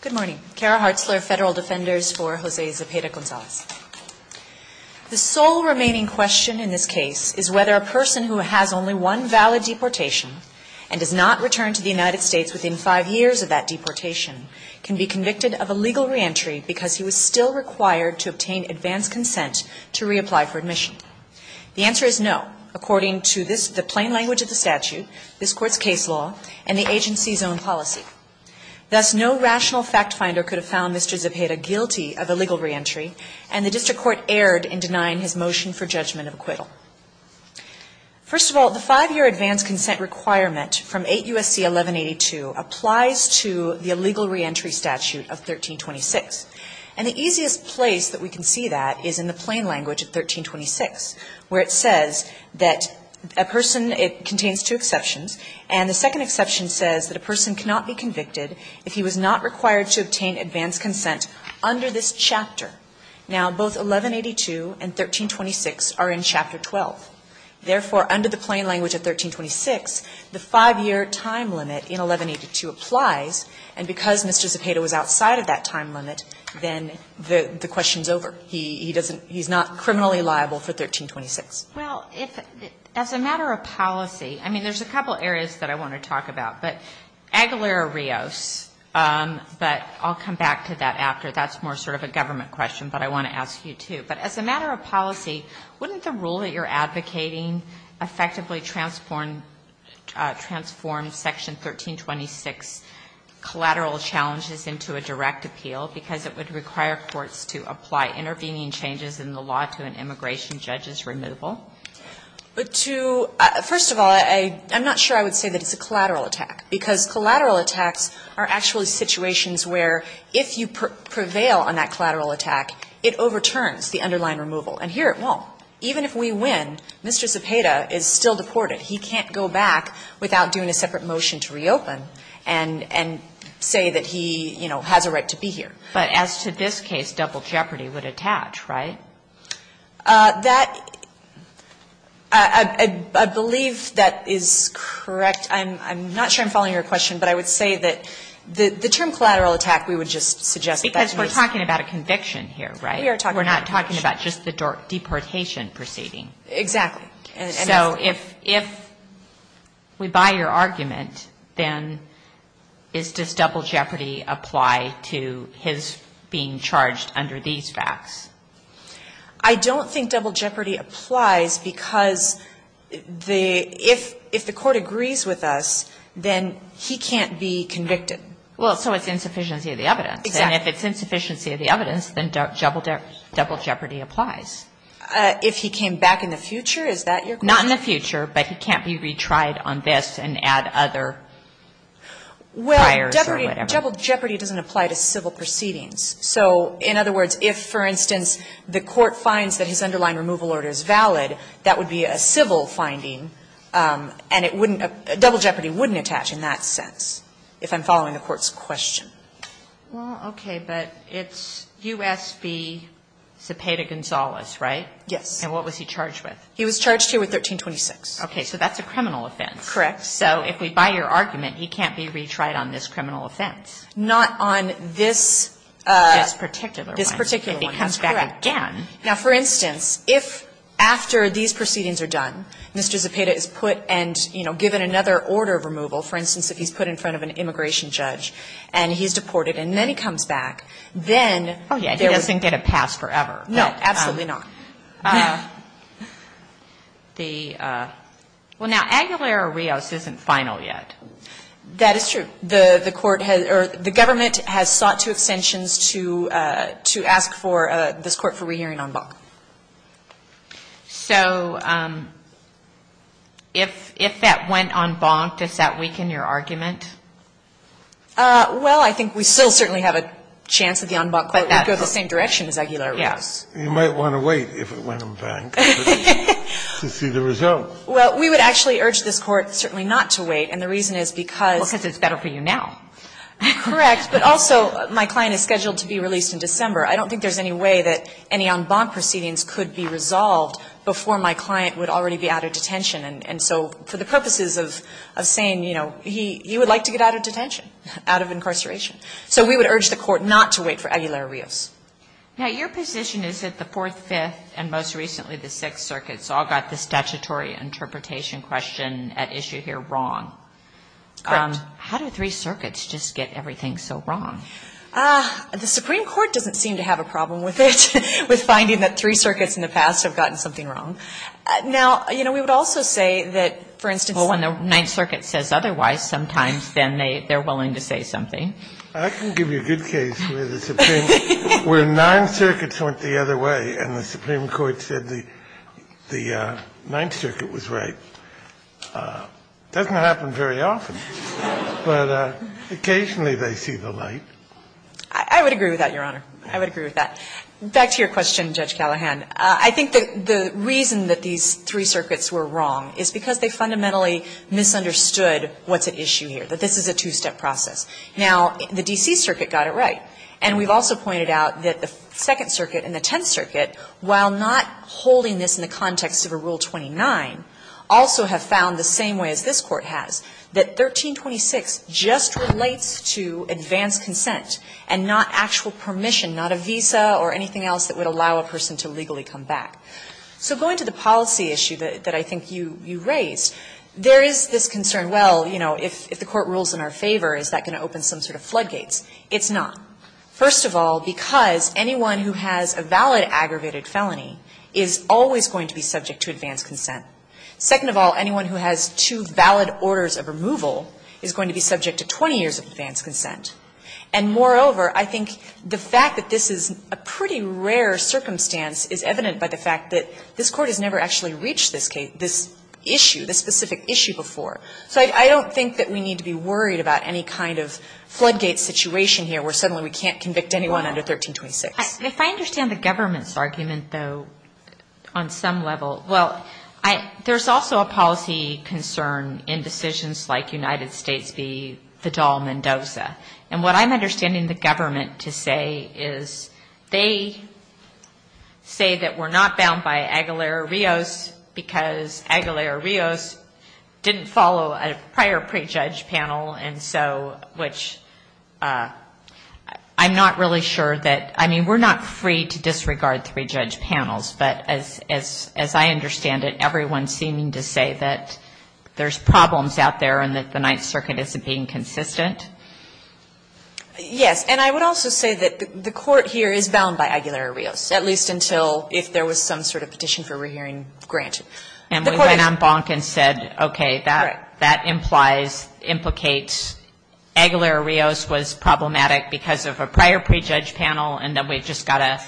Good morning. Kara Hartzler, Federal Defenders for Jose Zepeda-Gonzalez. The sole remaining question in this case is whether a person who has only one valid deportation and does not return to the United States within five years of that deportation can be convicted of a legal reentry because he was still required to obtain advanced consent to reapply for admission. The answer is no, according to the plain language of the statute, this Court's case law, and the agency's own policy. Thus, no rational fact finder could have found Mr. Zepeda guilty of illegal reentry, and the District Court erred in denying his motion for judgment of acquittal. First of all, the five-year advanced consent requirement from 8 U.S.C. 1182 applies to the illegal reentry statute of 1326. And the easiest place that we can see that is in the plain language of 1326, where it says that a person, it contains two exceptions, and the second exception says that a person cannot be convicted if he was not required to obtain advanced consent under this chapter. Now, both 1182 and 1326 are in Chapter 12. Therefore, under the plain language of 1326, the five-year time limit in 1182 applies. And because Mr. Zepeda was outside of that time limit, then the question's over. He doesn't he's not criminally liable for 1326. Well, if, as a matter of policy, I mean, there's a couple areas that I want to talk about. But Aguilera-Rios, but I'll come back to that after. That's more sort of a government question, but I want to ask you, too. But as a matter of policy, wouldn't the rule that you're advocating effectively transform Section 1326 collateral challenges into a direct appeal, because it would require courts to apply intervening changes in the law to an immigration judge's removal? First of all, I'm not sure I would say that it's a collateral attack, because collateral attacks are actually situations where if you prevail on that collateral attack, it overturns the underlying removal. And here it won't. Even if we win, Mr. Zepeda is still deported. He can't go back without doing a separate motion to reopen and say that he, you know, has a right to be here. But as to this case, double jeopardy would attach, right? That, I believe that is correct. I'm not sure I'm following your question, but I would say that the term collateral attack, we would just suggest that it was. Because we're talking about a conviction here, right? We are talking about a conviction. We're not talking about just the deportation proceeding. Exactly. So if we buy your argument, then does double jeopardy apply to his being charged under these facts? I don't think double jeopardy applies, because if the court agrees with us, then he can't be convicted. Well, so it's insufficiency of the evidence. Exactly. And if it's insufficiency of the evidence, then double jeopardy applies. If he came back in the future, is that your question? Not in the future, but he can't be retried on this and add other priors or whatever. Well, double jeopardy doesn't apply to civil proceedings. So in other words, if, for instance, the court finds that his underlying removal order is valid, that would be a civil finding, and it wouldn't – double jeopardy wouldn't attach in that sense, if I'm following the court's question. Well, okay. But it's U.S. v. Cepeda-Gonzalez. Right? Yes. And what was he charged with? He was charged here with 1326. Okay. So that's a criminal offense. Correct. So if we buy your argument, he can't be retried on this criminal offense. Not on this particular one. This particular one. If he comes back again. Now, for instance, if after these proceedings are done, Mr. Cepeda is put and, you know, given another order of removal, for instance, if he's put in front of an immigration judge and he's deported and then he comes back, then there would be – He doesn't get a pass forever. No, absolutely not. The – well, now, Aguilera-Rios isn't final yet. That is true. The court has – or the government has sought to extensions to ask for this court for rehearing en banc. So if that went en banc, does that weaken your argument? Well, I think we still certainly have a chance that the en banc would go the same direction as Aguilera-Rios. You might want to wait if it went en banc to see the result. Well, we would actually urge this court certainly not to wait, and the reason is because – Well, because it's better for you now. Correct. But also, my client is scheduled to be released in December. I don't think there's any way that any en banc proceedings could be resolved before my client would already be out of detention. And so for the purposes of saying, you know, he would like to get out of detention, out of incarceration. So we would urge the court not to wait for Aguilera-Rios. Now, your position is that the Fourth, Fifth, and most recently the Sixth Circuits all got the statutory interpretation question at issue here wrong. Correct. How do Three Circuits just get everything so wrong? The Supreme Court doesn't seem to have a problem with it, with finding that Three Circuits in the past have gotten something wrong. Now, you know, we would also say that, for instance – Well, when the Ninth Circuit says otherwise, sometimes then they're willing to say something. I can give you a good case where the Supreme – where Ninth Circuits went the other way and the Supreme Court said the Ninth Circuit was right. It doesn't happen very often, but occasionally they see the light. I would agree with that, Your Honor. I would agree with that. Back to your question, Judge Callahan. I think the reason that these Three Circuits were wrong is because they fundamentally misunderstood what's at issue here, that this is a two-step process. Now, the D.C. Circuit got it right. And we've also pointed out that the Second Circuit and the Tenth Circuit, while not holding this in the context of a Rule 29, also have found the same way as this Court has, that 1326 just relates to advanced consent and not actual permission, not a visa or anything else that would allow a person to legally come back. So going to the policy issue that I think you raised, there is this concern, well, you know, if the Court rules in our favor, is that going to open some sort of floodgates? It's not. First of all, because anyone who has a valid aggravated felony is always going to be subject to advanced consent. Second of all, anyone who has two valid orders of removal is going to be subject to 20 years of advanced consent. And moreover, I think the fact that this is a pretty rare circumstance is evident by the fact that this Court has never actually reached this issue, this specific issue before. So I don't think that we need to be worried about any kind of floodgate situation here where suddenly we can't convict anyone under 1326. And if I understand the government's argument, though, on some level, well, there's also a policy concern in decisions like United States v. Fidel Mendoza. And what I'm understanding the government to say is they say that we're not bound by Aguilera-Rios because Aguilera-Rios didn't follow a prior prejudge panel, and so which I'm not really sure that, I mean, we're not free to disregard three-judge panels. But as I understand it, everyone's seeming to say that there's problems out there and that the Ninth Circuit isn't being consistent. Yes. And I would also say that the Court here is bound by Aguilera-Rios, at least until if there was some sort of petition for rehearing granted. And we went on bonk and said, okay, that implies, implicates Aguilera-Rios was problematic because of a prior prejudge panel, and then we've just got to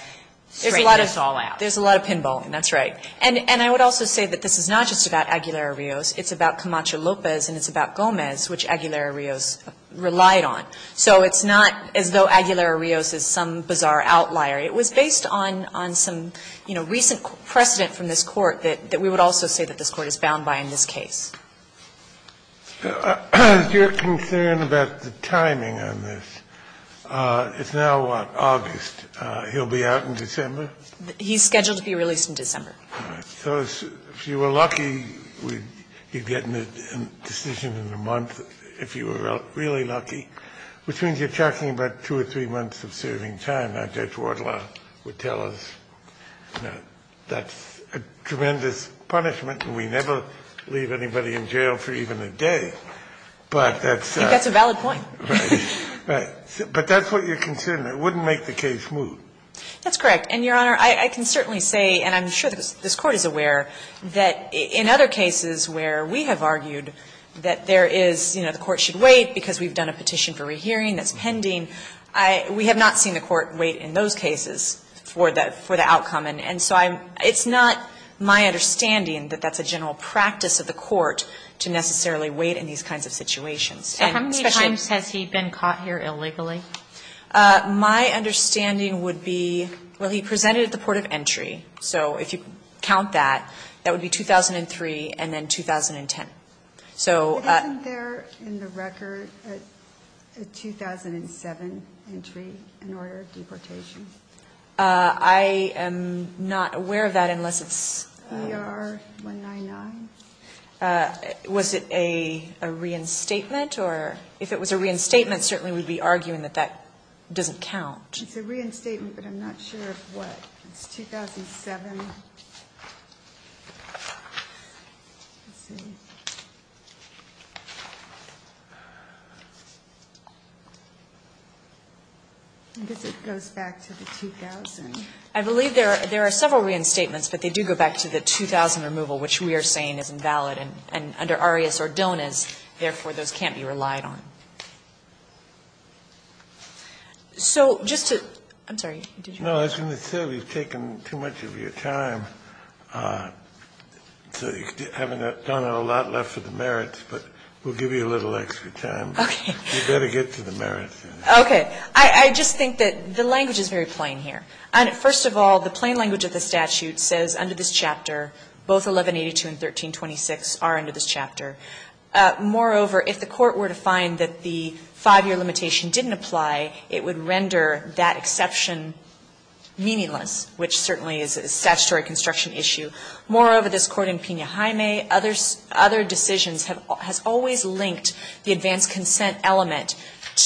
straighten this all out. There's a lot of pinballing. That's right. And I would also say that this is not just about Aguilera-Rios. It's about Camacho-Lopez and it's about Gomez, which Aguilera-Rios relied on. So it's not as though Aguilera-Rios is some bizarre outlier. It was based on, on some, you know, recent precedent from this Court that we would also say that this Court is bound by in this case. Kennedy, your concern about the timing on this, it's now, what, August. He'll be out in December? He's scheduled to be released in December. All right. So if you were lucky, you'd get a decision in a month, if you were really lucky, which means you're talking about two or three months of serving time. Now, Judge Wardlaw would tell us, no, that's a tremendous punishment and we never leave anybody in jail for even a day. But that's a valid point. Right. But that's what you're concerned. It wouldn't make the case move. That's correct. And, Your Honor, I can certainly say, and I'm sure this Court is aware, that in other cases where we have argued that there is, you know, the Court should wait because we've done a petition for rehearing that's pending, we have not seen the Court wait in those cases for the outcome. And so it's not my understanding that that's a general practice of the Court to necessarily wait in these kinds of situations. So how many times has he been caught here illegally? My understanding would be, well, he presented at the port of entry. So if you count that, that would be 2003 and then 2010. But isn't there in the record a 2007 entry in order of deportation? I am not aware of that unless it's ER 199. Was it a reinstatement? Or if it was a reinstatement, certainly we would be arguing that that doesn't count. It's a reinstatement, but I'm not sure of what. It's 2007. I guess it goes back to the 2000. I believe there are several reinstatements, but they do go back to the 2000 removal, which we are saying is invalid. And under Arias or Donas, therefore, those can't be relied on. So just to – I'm sorry. No, I was going to say we've taken too much of your time. So you haven't done a lot left for the merits, but we'll give you a little extra time. Okay. You better get to the merits. Okay. I just think that the language is very plain here. First of all, the plain language of the statute says under this chapter, both 1182 and 1326 are under this chapter. Moreover, if the Court were to find that the 5-year limitation didn't apply, it would render that exception meaningless, which certainly is a statutory construction issue. Moreover, this Court in Pena-Jaime, other decisions, has always linked the advance consent element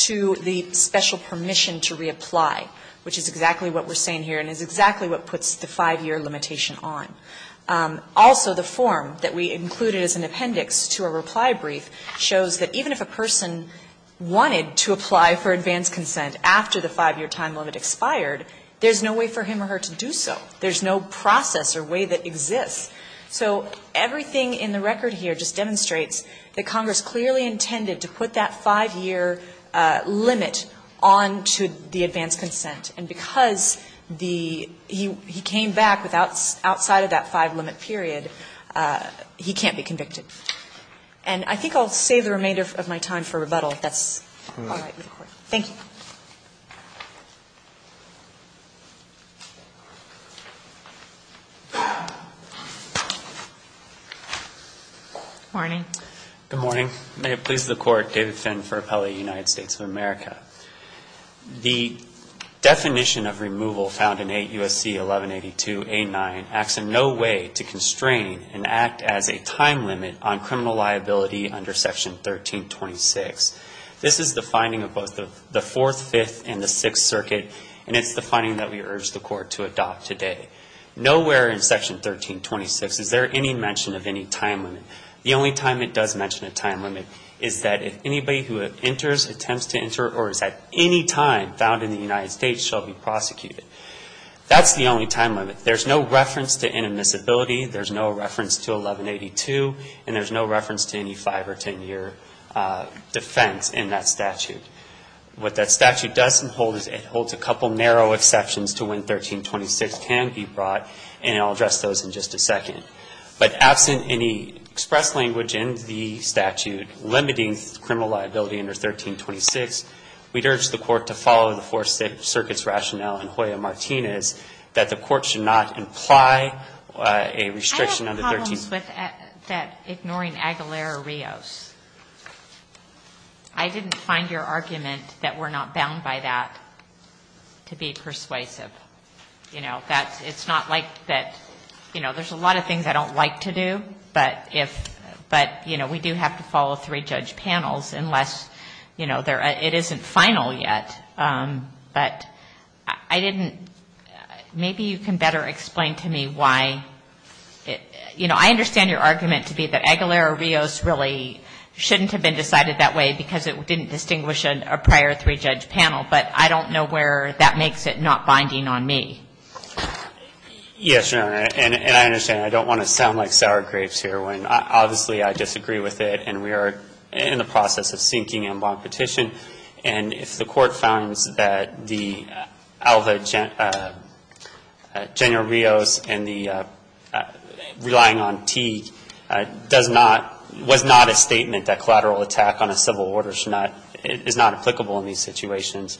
to the special permission to reapply, which is exactly what we're saying here and is exactly what puts the 5-year limitation on. Also, the form that we included as an appendix to a reply brief shows that even if a 5-year time limit expired, there's no way for him or her to do so. There's no process or way that exists. So everything in the record here just demonstrates that Congress clearly intended to put that 5-year limit on to the advance consent, and because the he came back without outside of that 5-limit period, he can't be convicted. And I think I'll save the remainder of my time for rebuttal, if that's all right with the Court. Thank you. Good morning. Good morning. May it please the Court, David Finn for Appellate United States of America. The definition of removal found in 8 U.S.C. 1182A9 acts in no way to constrain and act as a time limit on criminal liability under Section 1326. This is the finding of both the Fourth, Fifth, and the Sixth Circuit, and it's the finding that we urge the Court to adopt today. Nowhere in Section 1326 is there any mention of any time limit. The only time it does mention a time limit is that if anybody who enters, attempts to enter, or is at any time found in the United States shall be prosecuted. That's the only time limit. There's no reference to inadmissibility. There's no reference to 1182, and there's no reference to any 5- or 10-year defense in that statute. What that statute doesn't hold is it holds a couple narrow exceptions to when 1326 can be brought, and I'll address those in just a second. But absent any express language in the statute limiting criminal liability under 1326, we'd urge the Court to follow the Fourth, Sixth Circuit's rationale in Hoya-Martinez that the Court should not imply a restriction under 1326. Just with that ignoring Aguilera-Rios, I didn't find your argument that we're not bound by that to be persuasive. You know, that's, it's not like that, you know, there's a lot of things I don't like to do, but if, but, you know, we do have to follow three judge panels unless, you know, it isn't final yet. But I didn't, maybe you can better explain to me why, you know, I understand your argument to be that Aguilera-Rios really shouldn't have been decided that way because it didn't distinguish a prior three-judge panel, but I don't know where that makes it not binding on me. Yes, Your Honor, and I understand. I don't want to sound like sour grapes here when, obviously, I disagree with it, and we are in the process of seeking en banc petition. And if the Court finds that the Alva Gen, Genio-Rios and the relying-on-team does not, was not a statement that collateral attack on a civil order should not, is not applicable in these situations,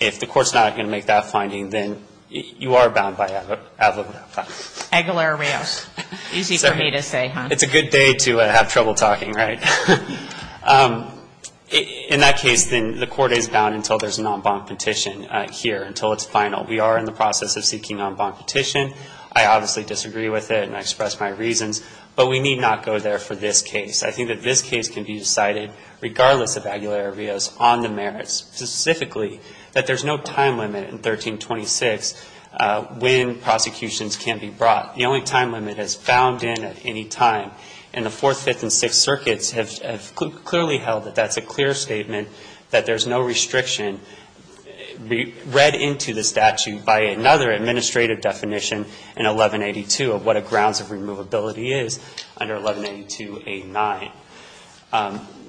if the Court's not going to make that finding, then you are bound by Alva Genio-Rios. Aguilera-Rios. Easy for me to say, huh? It's a good day to have trouble talking, right? In that case, then the Court is bound until there's an en banc petition here, until it's final. We are in the process of seeking en banc petition. I obviously disagree with it, and I express my reasons, but we need not go there for this case. I think that this case can be decided, regardless of Aguilera-Rios, on the merits, specifically that there's no time limit in 1326 when prosecutions can be brought. The only time limit is found in at any time. And the Fourth, Fifth, and Sixth Circuits have clearly held that that's a clear statement, that there's no restriction read into the statute by another administrative definition in 1182 of what a grounds of removability is under 1182A9.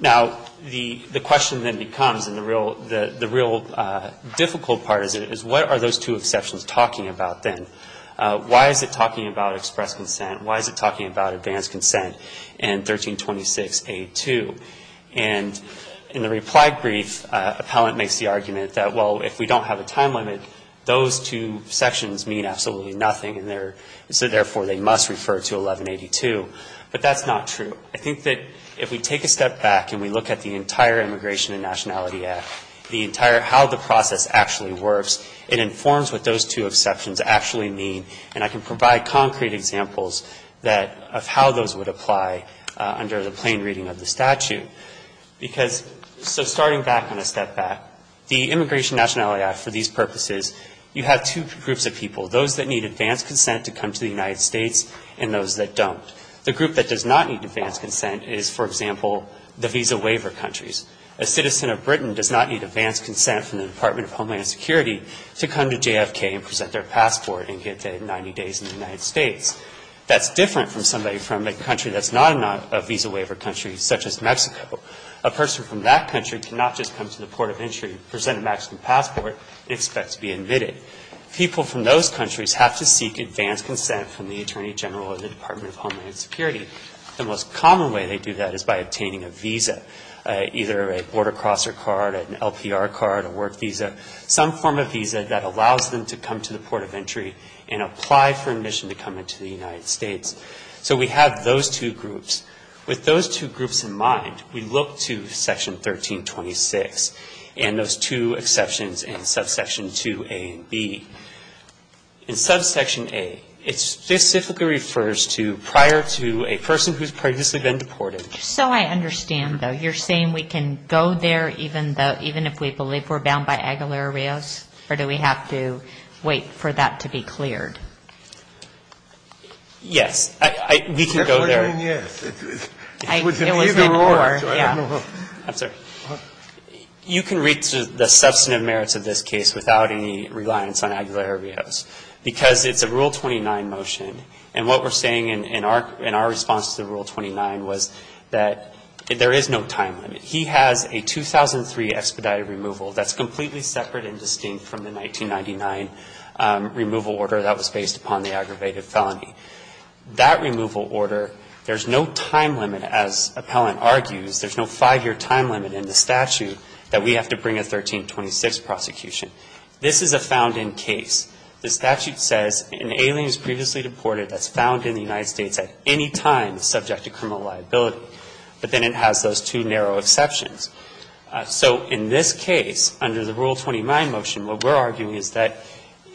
Now, the question then becomes, and the real difficult part is, what are those two exceptions talking about, then? Why is it talking about express consent? Why is it talking about advanced consent in 1326A2? And in the reply brief, appellant makes the argument that, well, if we don't have a grounds of removalability, then those two exceptions mean absolutely nothing, and so, therefore, they must refer to 1182. But that's not true. I think that if we take a step back and we look at the entire Immigration and Nationality Act, the entire how the process actually works, it informs what those two exceptions actually mean, and I can provide concrete examples that of how those would apply under the plain reading of the statute. So starting back on a step back, the Immigration and Nationality Act, for these purposes, you have two groups of people, those that need advanced consent to come to the United States and those that don't. The group that does not need advanced consent is, for example, the visa waiver countries. A citizen of Britain does not need advanced consent from the Department of Homeland Security to come to JFK and present their passport and get their 90 days in the United States. That's different from somebody from a country that's not a visa waiver country, such as Mexico. A person from that country cannot just come to the Port of Entry, present a Mexican passport, and expect to be admitted. People from those countries have to seek advanced consent from the Attorney General of the Department of Homeland Security. The most common way they do that is by obtaining a visa, either a border crosser card, an LPR card, a work visa, some form of visa that allows them to come to the Port of Entry and apply for admission to come into the United States. So we have those two groups. With those two groups in mind, we look to Section 1326 and those two exceptions in subsection 2A and B. In subsection A, it specifically refers to prior to a person who's previously been deported. So I understand, though. You're saying we can go there even if we believe we're bound by Aguilar Arreos, or do we have to wait for that to be cleared? Yes. We can go there. I'm sorry. You can reach the substantive merits of this case without any reliance on Aguilar Arreos because it's a Rule 29 motion, and what we're saying in our response to the Rule 29 was that there is no time limit. He has a 2003 expedited removal that's completely separate and distinct from the 1999 removal order that was based upon the aggravated felony. That removal order, there's no time limit, as Appellant argues. There's no five-year time limit in the statute that we have to bring a 1326 prosecution. This is a found-in case. The statute says an alien who's previously deported that's found in the United States at any time is subject to criminal liability. But then it has those two narrow exceptions. So in this case, under the Rule 29 motion, what we're arguing is that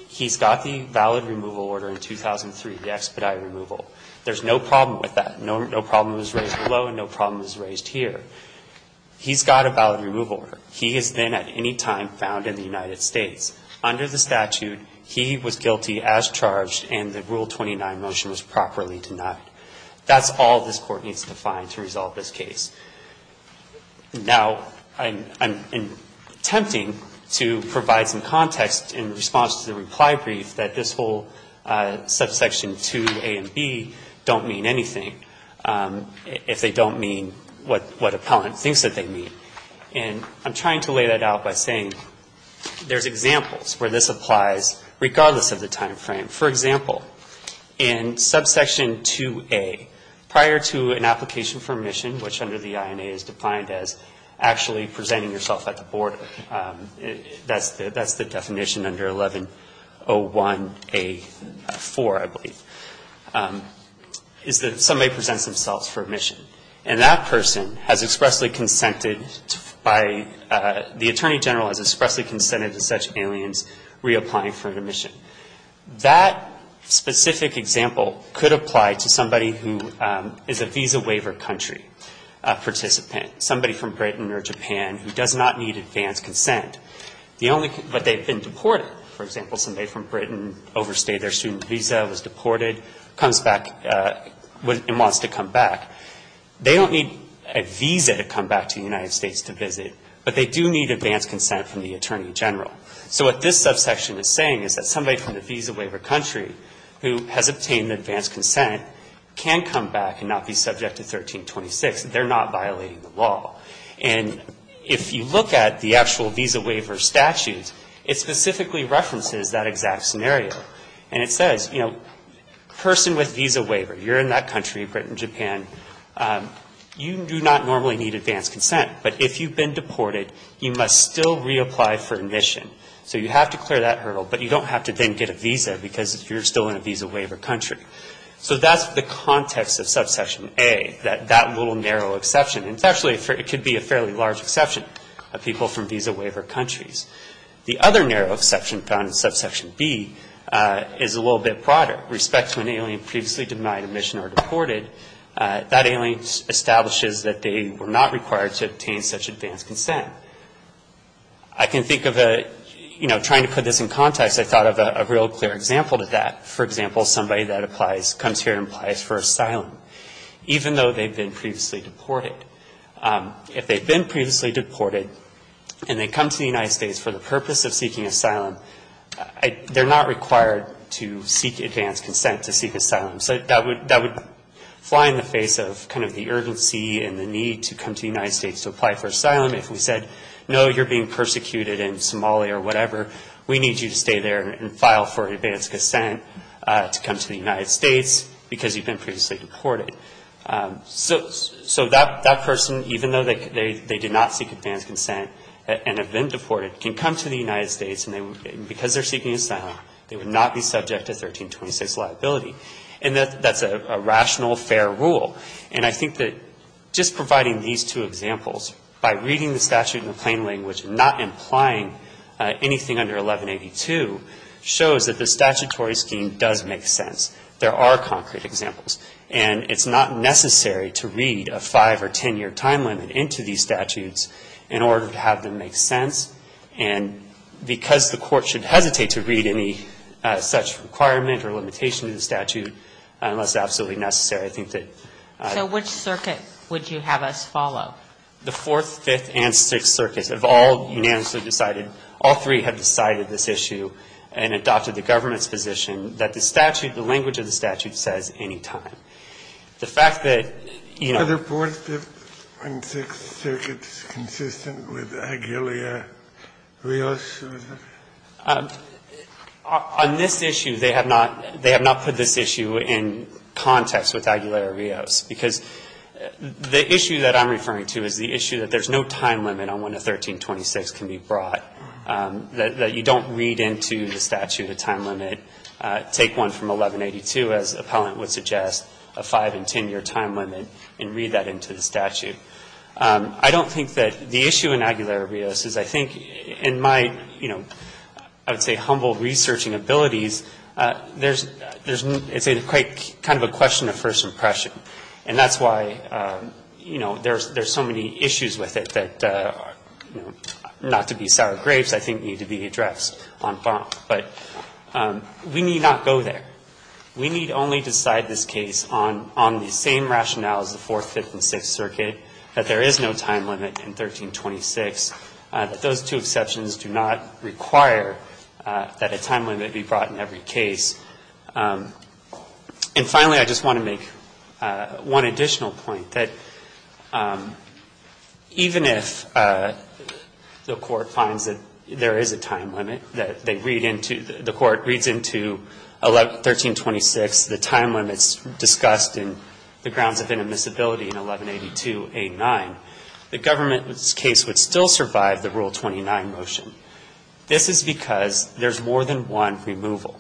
he's got the valid removal order in 2003, the expedited removal. There's no problem with that. No problem was raised below and no problem was raised here. He's got a valid removal order. He is then at any time found in the United States. Under the statute, he was guilty as charged and the Rule 29 motion was properly denied. That's all this Court needs to find to resolve this case. Now, I'm attempting to provide some context in response to the reply brief that this whole subsection 2A and B don't mean anything if they don't mean what Appellant thinks that they mean. And I'm trying to lay that out by saying there's examples where this applies regardless of the time frame. For example, in subsection 2A, prior to an application for admission, which under the INA is defined as actually presenting yourself at the border, that's the subsection 2A-4, I believe, is that somebody presents themselves for admission. And that person has expressly consented by the Attorney General has expressly consented to such aliens reapplying for an admission. That specific example could apply to somebody who is a visa waiver country participant, somebody from Britain or Japan who does not need advance consent. But they've been deported. For example, somebody from Britain overstayed their student visa, was deported, comes back and wants to come back. They don't need a visa to come back to the United States to visit, but they do need advance consent from the Attorney General. So what this subsection is saying is that somebody from the visa waiver country who has obtained advance consent can come back and not be subject to 1326. They're not violating the law. And if you look at the actual visa waiver statutes, it specifically references that exact scenario. And it says, you know, person with visa waiver, you're in that country, Britain, Japan, you do not normally need advance consent. But if you've been deported, you must still reapply for admission. So you have to clear that hurdle, but you don't have to then get a visa because you're still in a visa waiver country. So that's the context of subsection A, that little narrow exception. And actually, it could be a fairly large exception of people from visa waiver countries. The other narrow exception found in subsection B is a little bit broader. Respect to an alien previously denied admission or deported, that alien establishes that they were not required to obtain such advance consent. I can think of a, you know, trying to put this in context, I thought of a real clear example to that. For example, somebody that applies, comes here and applies for asylum, even though they've been previously deported. If they've been previously deported and they come to the United States for the purpose of seeking asylum, they're not required to seek advance consent to seek asylum. So that would fly in the face of kind of the urgency and the need to come to the United States to apply for asylum. If we said, no, you're being persecuted in Somalia or whatever, we need you to stay there and file for advance consent to come to the United States because you've been previously deported. So that person, even though they did not seek advance consent and have been deported, can come to the United States, and because they're seeking asylum, they would not be subject to 1326 liability. And that's a rational, fair rule. And I think that just providing these two examples by reading the statute in plain language and not implying anything under 1182 shows that the statutory scheme does make sense. There are concrete examples. And it's not necessary to read a five- or ten-year time limit into these statutes in order to have them make sense. And because the Court should hesitate to read any such requirement or limitation to the statute, unless absolutely necessary, I think that the Fourth, Fifth, and Sixth Circuits have all unanimously decided, all three have decided this issue and adopted the government's position, that the statute, the language of the statute says any time. The fact that, you know the Fourth, Fifth, and Sixth Circuits consistent with Aguilar Rios? On this issue, they have not put this issue in context with Aguilar Rios, because the issue that I'm referring to is the issue that there's no time limit on when a 1326 can be brought, that you don't read into the statute a time limit, take one from 1182 as appellant would suggest, a five- and ten-year time limit, and read that into the statute. I don't think that the issue in Aguilar Rios is, I think, in my, you know, I would say humble researching abilities, there's, it's quite kind of a question of first impression. And that's why, you know, there's so many issues with it that, you know, not to be sour grapes, I think need to be addressed en banc. But we need not go there. We need only decide this case on the same rationale as the Fourth, Fifth, and Sixth Circuit, that there is no time limit in 1326, that those two exceptions do not require that a time limit be brought in every case. And finally, I just want to make one additional point, that even if the Court finds that there is a time limit, that they read into, the Court reads into 1326, the time limits discussed in the grounds of inadmissibility in 1182a9, the government's case would still survive the Rule 29 motion. This is because there's more than one removal.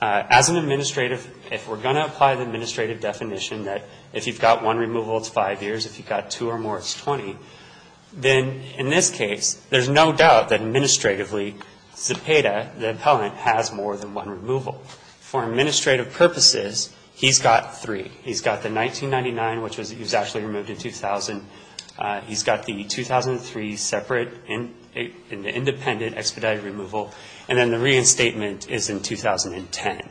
As an administrative, if we're going to apply the administrative definition, that if you've got one removal, it's five years. If you've got two or more, it's 20. Then, in this case, there's no doubt that administratively, Zepeda, the appellant, has more than one removal. For administrative purposes, he's got three. He's got the 1999, which was, he was actually removed in 2000. He's got the 2003 separate and independent expedited removal. And then the reinstatement is in 2010.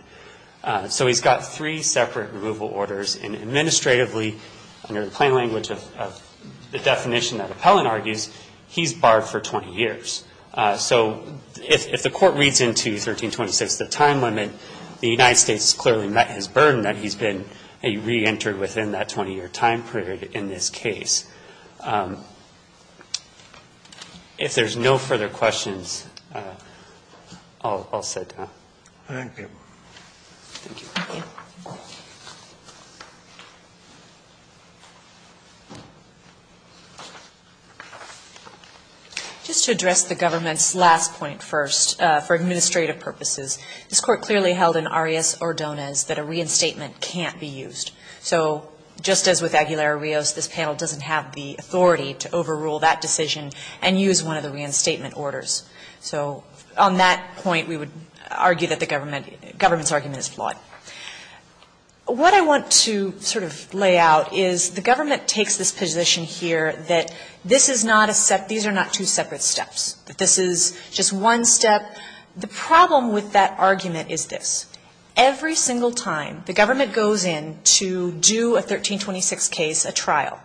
So he's got three separate removal orders, and administratively, under the plain language of the definition that appellant argues, he's barred for 20 years. So if the Court reads into 1326, the time limit, the United States has clearly met his burden that he's been reentered within that 20-year time period in this case. If there's no further questions, I'll sit down. Thank you. Thank you. Just to address the government's last point first, for administrative purposes, this Court clearly held in Arias-Ordonez that a reinstatement can't be used. So just as with Aguilar-Rios, this panel doesn't have the authority to overrule that decision and use one of the reinstatement orders. So on that point, we would argue that the government's argument is flawed. What I want to sort of lay out is the government takes this position here that this is not a separate, these are not two separate steps, that this is just one step. The problem with that argument is this. Every single time the government goes in to do a 1326 case, a trial,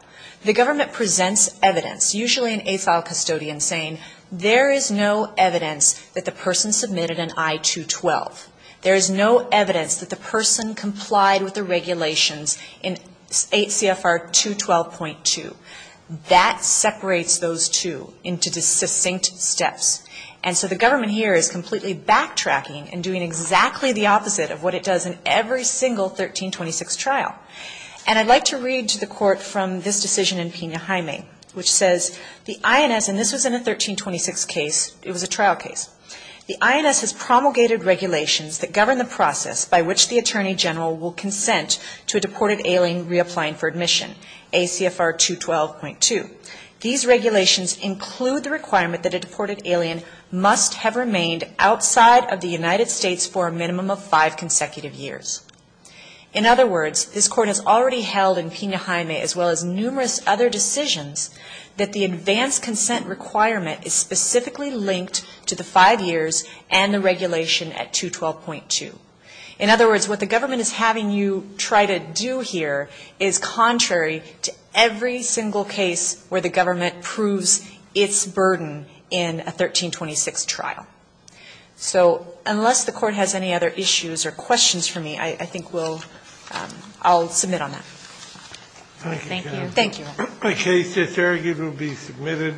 the government presents evidence, usually an AFAL custodian, saying there is no evidence that the person submitted an I-212. There is no evidence that the person complied with the regulations in 8 CFR 212.2. That separates those two into distinct steps. And so the government here is completely backtracking and doing exactly the opposite of what it does in every single 1326 trial. And I'd like to read to the Court from this decision in Pena-Jaime, which says the INS, and this was in a 1326 case, it was a trial case. The INS has promulgated regulations that govern the process by which the Attorney General will consent to a deported alien reapplying for admission, ACFR 212.2. These regulations include the requirement that a deported alien must have remained outside of the United States for a minimum of five consecutive years. In other words, this Court has already held in Pena-Jaime, as well as numerous other decisions, that the advanced consent requirement is specifically linked to the five years and the regulation at 212.2. In other words, what the government is having you try to do here is contrary to every single case where the government proves its burden in a 1326 trial. So unless the Court has any other issues or questions for me, I think we'll – I'll submit on that. Thank you.